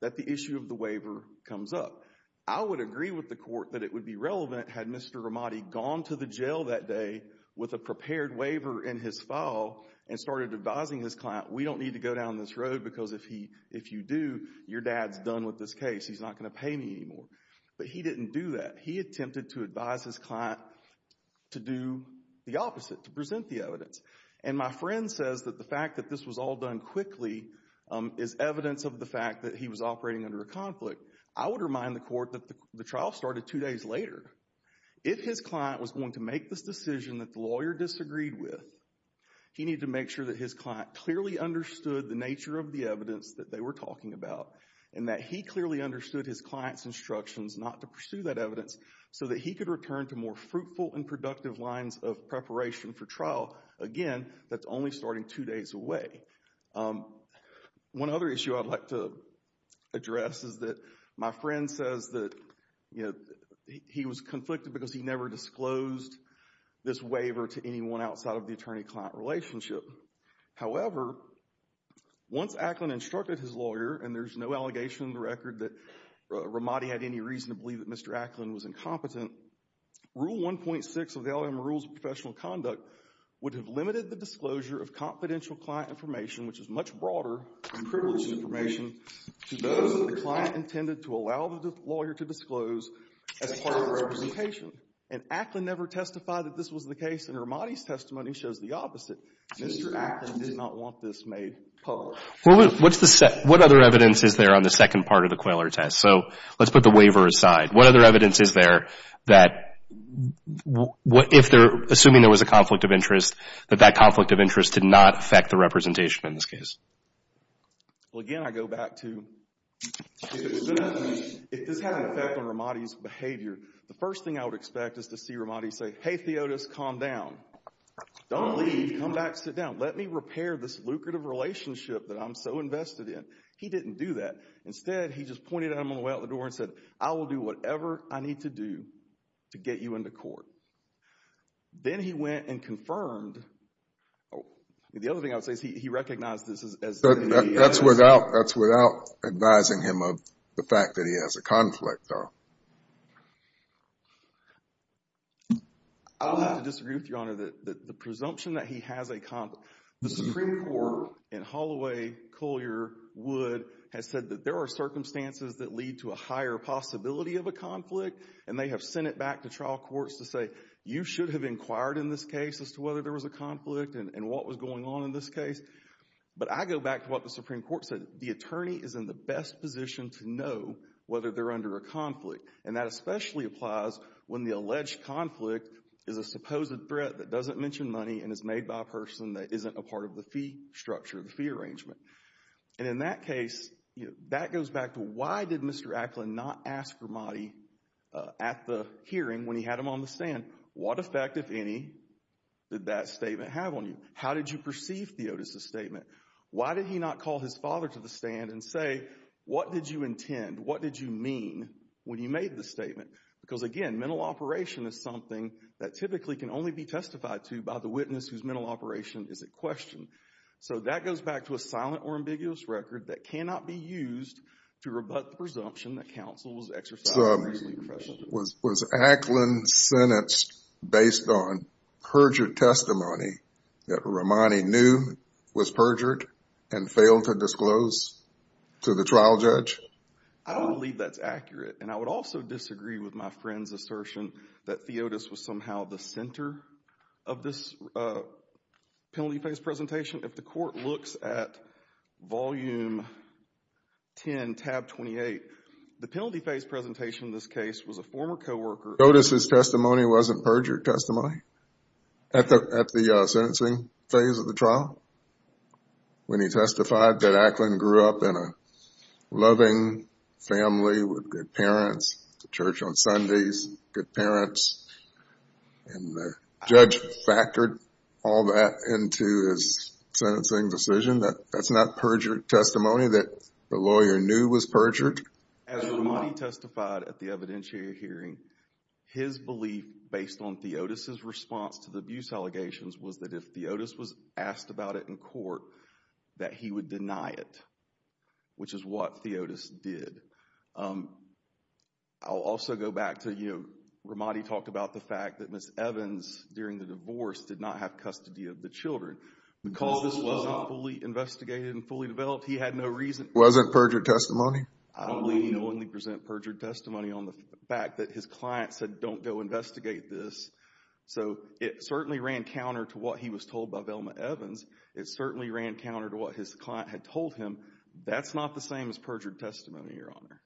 that the issue of the waiver comes up. I would agree with the court that it would be relevant had Mr. Ramadi gone to jail that day with a prepared waiver in his file and started advising his client, we don't need to go down this road because if you do, your dad's done with this case. He's not going to pay me anymore. But he didn't do that. He attempted to advise his client to do the opposite, to present the evidence. And my friend says that the fact that this was all done quickly is evidence of the fact that he was operating under a conflict. I would remind the court that the trial started two days later. If his client was going to make this decision that the lawyer disagreed with, he needed to make sure that his client clearly understood the nature of the evidence that they were talking about, and that he clearly understood his client's instructions not to pursue that evidence so that he could return to more fruitful and productive lines of preparation for trial. Again, that's only starting two days away. One other issue I'd like to address is that my friend says that he was conflicted because he never disclosed this waiver to anyone outside of the attorney-client relationship. However, once Acklin instructed his lawyer, and there's no allegation in the record that Ramadi had any reason to believe that Mr. Acklin was incompetent, Rule 1.6 of the LLM Rules of Professional Conduct would have limited the disclosure of confidential client information, which is much broader and privileged information, to those that the client had no representation, and Acklin never testified that this was the case, and Ramadi's testimony shows the opposite. Mr. Acklin did not want this made public. What other evidence is there on the second part of the Quayler test? So let's put the waiver aside. What other evidence is there that if they're assuming there was a conflict of interest, that that conflict of interest did not affect the representation in this case? Well, again, I go back to, if this had an effect on Ramadi's behavior, the first thing I would expect is to see Ramadi say, hey, Theotis, calm down. Don't leave. Come back, sit down. Let me repair this lucrative relationship that I'm so invested in. He didn't do that. Instead, he just pointed at him on the way out the door and said, I will do whatever I need to do to get you into court. Then he went and confirmed, the other thing I would say is he recognized this as the evidence. That's without advising him of the fact that he has a conflict, though. I'll have to disagree with Your Honor. The presumption that he has a conflict. The Supreme Court in Holloway, Colyer, Wood has said that there are circumstances that lead to a higher possibility of a conflict. And they have sent it back to trial courts to say, you should have inquired in this case as to whether there was a conflict and what was going on in this case. But I go back to what the Supreme Court said. The attorney is in the best position to know whether they're under a conflict. And that especially applies when the alleged conflict is a supposed threat that doesn't mention money and is made by a person that isn't a part of the fee structure, the fee arrangement. And in that case, that goes back to why did Mr. Ackland not ask for money at the hearing when he had him on the stand? What effect, if any, did that statement have on you? How did you perceive Theotis' statement? Why did he not call his father to the stand and say, what did you intend? What did you mean when you made the statement? Because again, mental operation is something that typically can only be testified to by the witness whose mental operation is at question. So that goes back to a silent or ambiguous record that cannot be used to rebut the presumption that counsel was exercising a reason to question Theotis. Was Ackland's sentence based on perjured testimony that Romani knew was perjured and failed to disclose to the trial judge? I don't believe that's accurate. And I would also disagree with my friend's assertion that Theotis was somehow the center of this penalty phase presentation. If the court looks at volume 10, tab 28, the penalty phase presentation in this case was a former co-worker. Theotis' testimony wasn't perjured testimony at the sentencing phase of the trial. When he testified that Ackland grew up in a loving family with good parents, the church on Sundays, good parents, and the judge factored all that into his sentencing decision, that's not perjured testimony that the lawyer knew was perjured. As Romani testified at the evidentiary hearing, his belief based on Theotis' response to the abuse allegations was that if Theotis was asked about it in court, that he would deny it, which is what Theotis did. I'll also go back to Romani talked about the fact that Ms. Evans, during the divorce, did not have custody of the children. Because this wasn't fully investigated and fully developed, he had no reason... It wasn't perjured testimony? I don't believe he will only present perjured testimony on the fact that his client said, don't go investigate this. So it certainly ran counter to what he was told by Velma Evans. It certainly ran counter to what his client had told him. That's not the same as perjured testimony, Your Honor.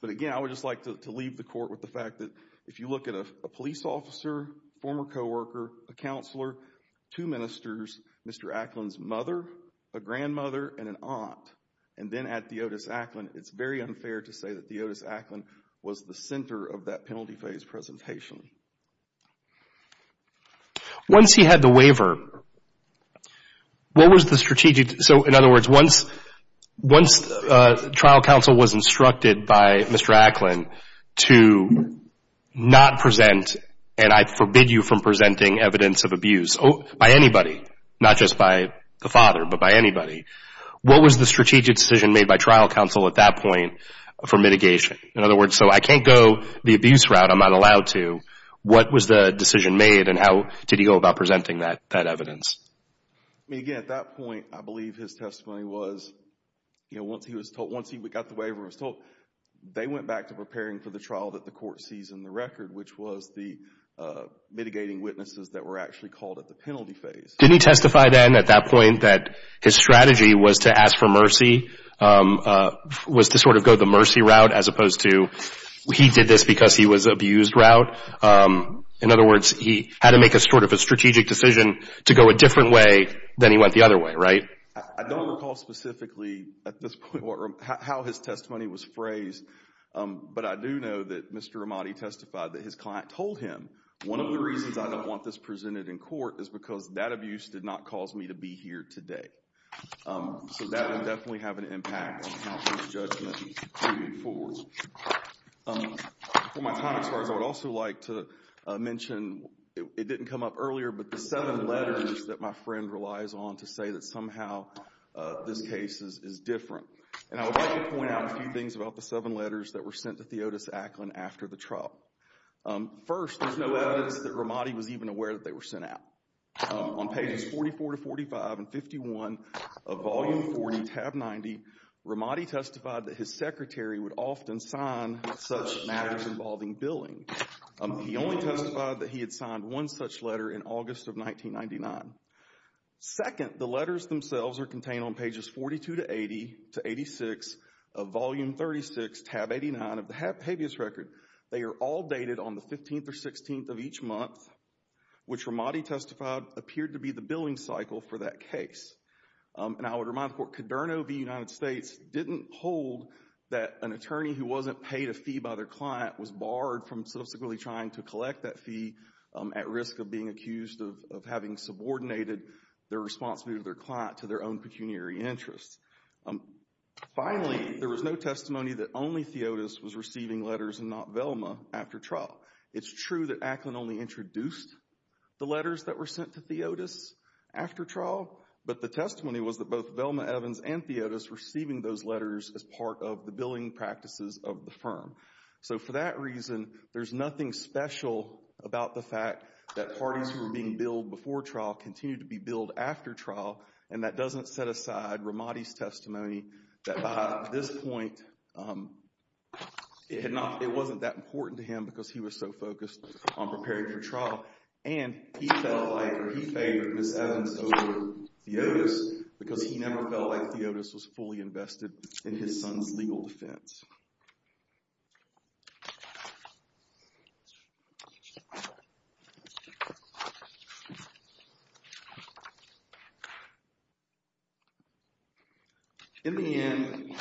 But again, I would just like to leave the court with the fact that if you look at a police officer, former co-worker, a counselor, two ministers, Mr. Acklin's mother, a grandmother, and an aunt, and then add Theotis Acklin, it's very unfair to say that Theotis Acklin was the center of that penalty phase presentation. Once he had the waiver, what was the strategic... So in other words, once trial counsel was instructed by Mr. Acklin to not present, and I forbid you from presenting evidence of abuse by anybody, not just by the father, but by anybody, what was the strategic decision made by trial counsel at that point for mitigation? In other words, so I can't go the abuse route. I'm not allowed to. What was the decision made and how did he go about presenting that evidence? I mean, again, at that point, I believe his testimony was, once he got the waiver and was told, they went back to preparing for the trial that the court sees in the record, which was the mitigating witnesses that were actually called at the penalty phase. Didn't he testify then at that point that his strategy was to ask for mercy, was to sort of go the mercy route as opposed to, he did this because he was abused route? In other words, he had to make a sort of a strategic decision to go a different way than he went the other way, right? I don't recall specifically at this point how his testimony was phrased, but I do know that Mr. Ramadi testified that his client told him, one of the reasons I don't want this presented in court is because that abuse did not cause me to be here today. So that would definitely have an impact on how his judgment is moving forward. Before my time expires, I would also like to mention, it didn't come up earlier, but the seven letters that my friend relies on to say that somehow this case is different. And I would like to point out a few things about the seven letters that were sent to Theodosia Ackland after the trial. First, there's no evidence that Ramadi was even aware that they were sent out. On pages 44 to 45 and 51 of volume 40, tab 90, Ramadi testified that his secretary would often sign such matters involving billing. He only testified that he had signed one such letter in August of 1999. Second, the letters themselves are contained on pages 42 to 80 to 86 of volume 36, tab 89 of the habeas record. They are all dated on the 15th or 16th of each month, which Ramadi testified appeared to be the billing cycle for that case. And I would remind the court, Coderno v. United States didn't hold that an attorney who wasn't paid a fee by their client was barred from subsequently trying to collect that fee at risk of being accused of having subordinated their responsibility to their client to their own pecuniary interests. Finally, there was no testimony that only Theodos was receiving letters and not Velma after trial. It's true that Ackland only introduced the letters that were sent to Theodos after trial, but the testimony was that both Velma Evans and Theodos receiving those letters as part of the billing practices of the firm. So for that reason, there's nothing special about the fact that parties who were being billed before trial continue to be billed after trial, and that doesn't set aside Ramadi's testimony that by this point, it wasn't that important to him because he was so focused on preparing for trial. And he favored Ms. Evans over Theodos because he never felt like Theodos was fully invested in his son's legal defense. In the end,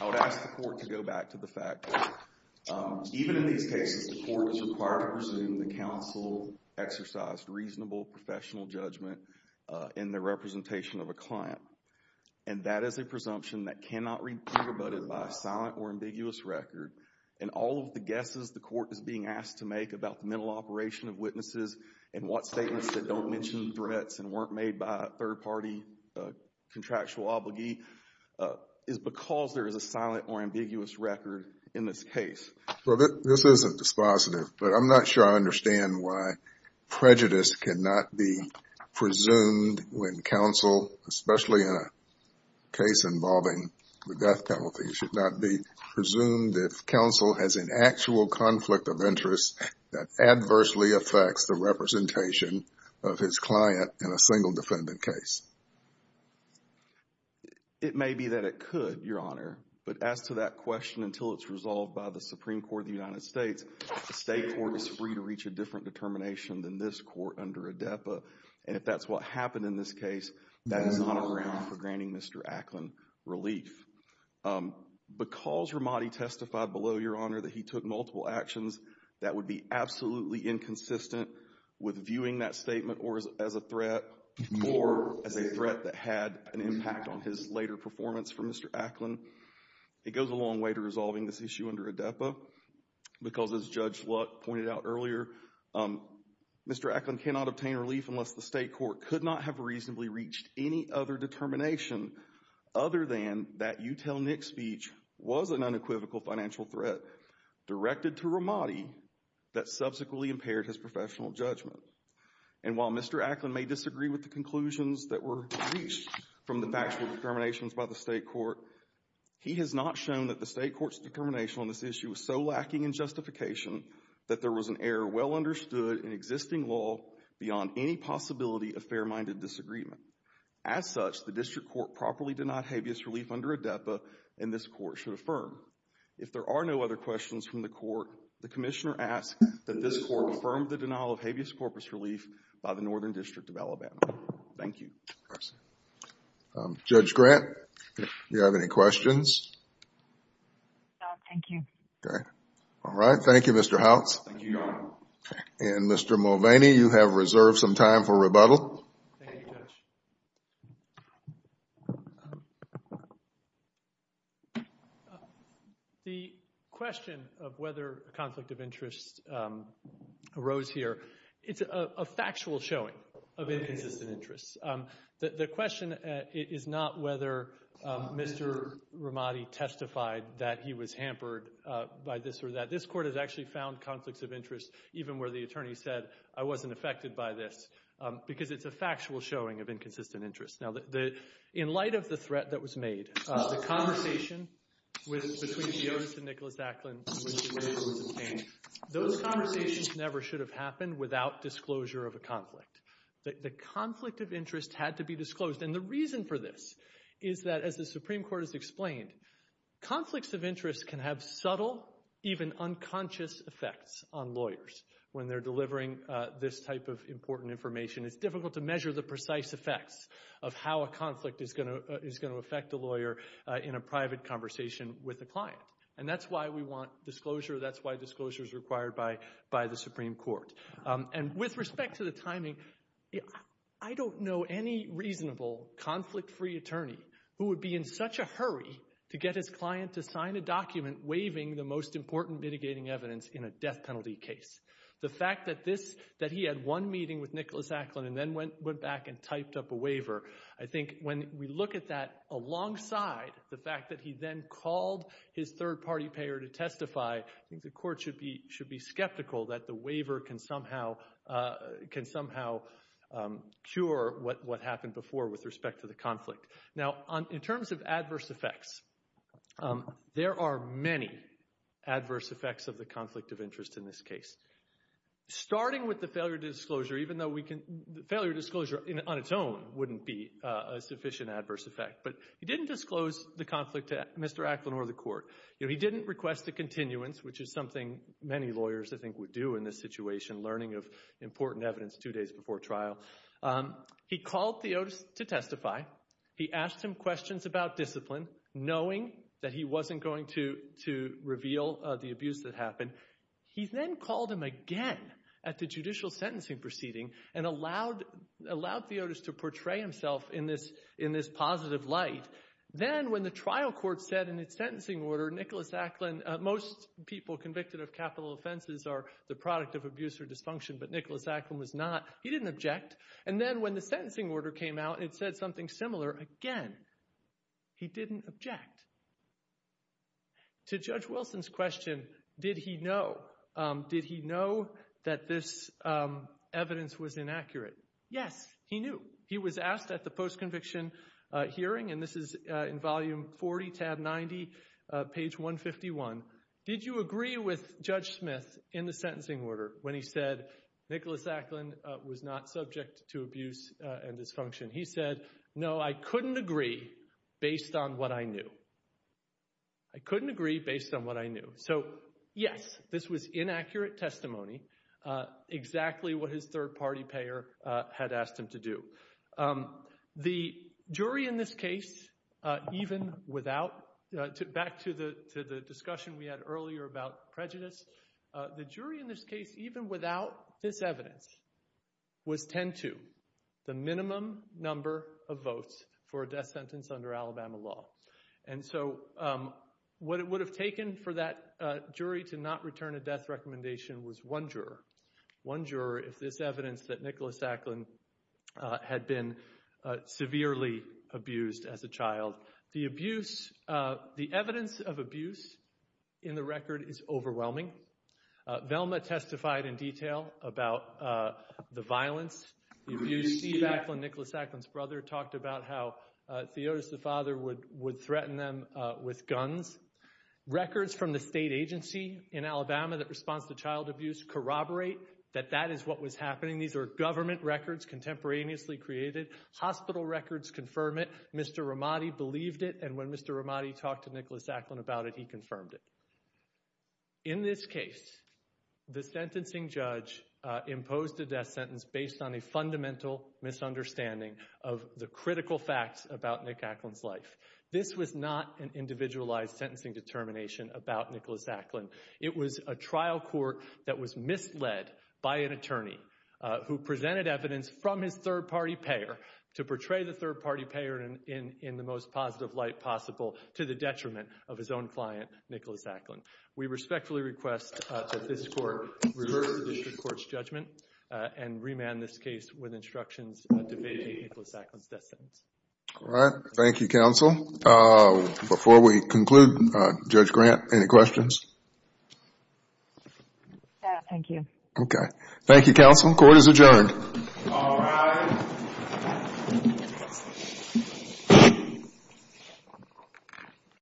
I would ask the court to go back to the fact that even in these cases, the court is required to presume the counsel exercised reasonable professional judgment in the representation of a client, and that is a presumption that cannot be rebutted by silent or ambiguous record. And all of the guesses the court is being asked to make about the mental operation of witnesses and what statements that don't mention threats and weren't made by a third-party contractual obligee is because there is a silent or ambiguous record in this case. Well, this isn't dispositive, but I'm not sure I understand why prejudice cannot be presumed if counsel has an actual conflict of interest that adversely affects the representation of his client in a single defendant case. It may be that it could, Your Honor. But as to that question, until it's resolved by the Supreme Court of the United States, the state court is free to reach a different determination than this court under ADEPA. And if that's what happened in this case, that is not a ground for granting Mr. Ackland relief. Because Ramadi testified below, Your Honor, that he took multiple actions, that would be absolutely inconsistent with viewing that statement as a threat or as a threat that had an impact on his later performance for Mr. Ackland. It goes a long way to resolving this issue under ADEPA because, as Judge Lutt pointed out earlier, Mr. Ackland cannot obtain relief unless the state court could not have reasonably reached any other determination other than that you tell Nick speech was an unequivocal financial threat directed to Ramadi that subsequently impaired his professional judgment. And while Mr. Ackland may disagree with the conclusions that were reached from the factual determinations by the state court, he has not shown that the state court's determination on this issue was so lacking in justification that there was an error well understood in existing law beyond any possibility of fair-minded disagreement. As such, the district court properly denied habeas relief under ADEPA, and this court should affirm. If there are no other questions from the court, the commissioner asks that this court affirm the denial of habeas corpus relief by the Northern District of Alabama. Thank you. Judge Grant, do you have any questions? No, thank you. Okay. All right. Thank you, Mr. Houts. Thank you, Your Honor. And Mr. Mulvaney, you have reserved some time for rebuttal. The question of whether a conflict of interest arose here, it's a factual showing of inconsistent interests. The question is not whether Mr. Ramadi testified that he was hampered by this or that. This court has actually found conflicts of interest, even where the attorney said, I wasn't affected by this, because it's a factual showing of inconsistent interests. Now, in light of the threat that was made, the conversation between Diotis and Nicholas Acklin, those conversations never should have happened without disclosure of a conflict. The conflict of interest had to be disclosed. And the reason for this is that, as the Supreme Court has explained, conflicts of interest can have subtle, even unconscious effects on lawyers when they're delivering this type of important information. It's difficult to measure the precise effects of how a conflict is going to affect a lawyer in a private conversation with a client. And that's why we want disclosure. That's why disclosure is required by the Supreme Court. And with respect to the timing, I don't know any reasonable conflict-free attorney who would be in such a hurry to get his client to sign a document waiving the most important mitigating evidence in a death penalty case. The fact that he had one meeting with Nicholas Acklin and then went back and typed up a waiver, I think when we look at that alongside the fact that he then called his third-party payer to testify, I think the court should be skeptical that the waiver can somehow cure what happened before with respect to the conflict. Now, in terms of adverse effects, there are many adverse effects of the conflict of interest in this case, starting with the failure to disclosure, even though failure to disclosure on its own wouldn't be a sufficient adverse effect. But he didn't disclose the conflict to Mr. Acklin or the court. He didn't request a continuance, which is something many lawyers, I think, would do in this situation, learning of important evidence two days before trial. He called Theotis to testify. He asked him questions about discipline, knowing that he wasn't going to reveal the abuse that happened. He then called him again at the judicial sentencing proceeding and allowed Theotis to portray himself in this positive light. Then when the trial court said in its sentencing order, Nicholas Acklin, most people convicted of capital offenses are the product of abuse or dysfunction, but Nicholas Acklin was not. He didn't object. And then when the sentencing order came out, it said something similar again. He didn't object. To Judge Wilson's question, did he know? Did he know that this evidence was inaccurate? Yes, he knew. He was asked at the post-conviction hearing, and this is in volume 40, tab 90, page 151, did you agree with Judge Smith in the sentencing order when he said Nicholas Acklin was not subject to abuse and dysfunction? He said, no, I couldn't agree based on what I knew. I couldn't agree based on what I knew. So yes, this was inaccurate testimony, exactly what his third-party payer had asked him to do. The jury in this case, even without, back to the discussion we had earlier about prejudice, the jury in this case, even without this evidence, was 10-2, the minimum number of votes for a death sentence under Alabama law. And so what it would have taken for that jury to not return a death recommendation was one that Nicholas Acklin had been severely abused as a child. The abuse, the evidence of abuse in the record is overwhelming. Velma testified in detail about the violence, the abuse. Steve Acklin, Nicholas Acklin's brother, talked about how Theotis, the father, would threaten them with guns. Records from the state agency in Alabama that responds to child abuse corroborate that that is what was happening. These are government records contemporaneously created. Hospital records confirm it. Mr. Ramadi believed it, and when Mr. Ramadi talked to Nicholas Acklin about it, he confirmed it. In this case, the sentencing judge imposed a death sentence based on a fundamental misunderstanding of the critical facts about Nick Acklin's life. This was not an individualized sentencing determination about Nicholas Acklin. It was a trial court that was misled by an attorney who presented evidence from his third party payer to portray the third party payer in the most positive light possible to the detriment of his own client, Nicholas Acklin. We respectfully request that this court reverse the district court's judgment and remand this case with instructions debating Nicholas Acklin's death sentence. All right. Thank you, counsel. Before we conclude, Judge Grant, any questions? No, thank you. Okay. Thank you, counsel. Court is adjourned. All rise.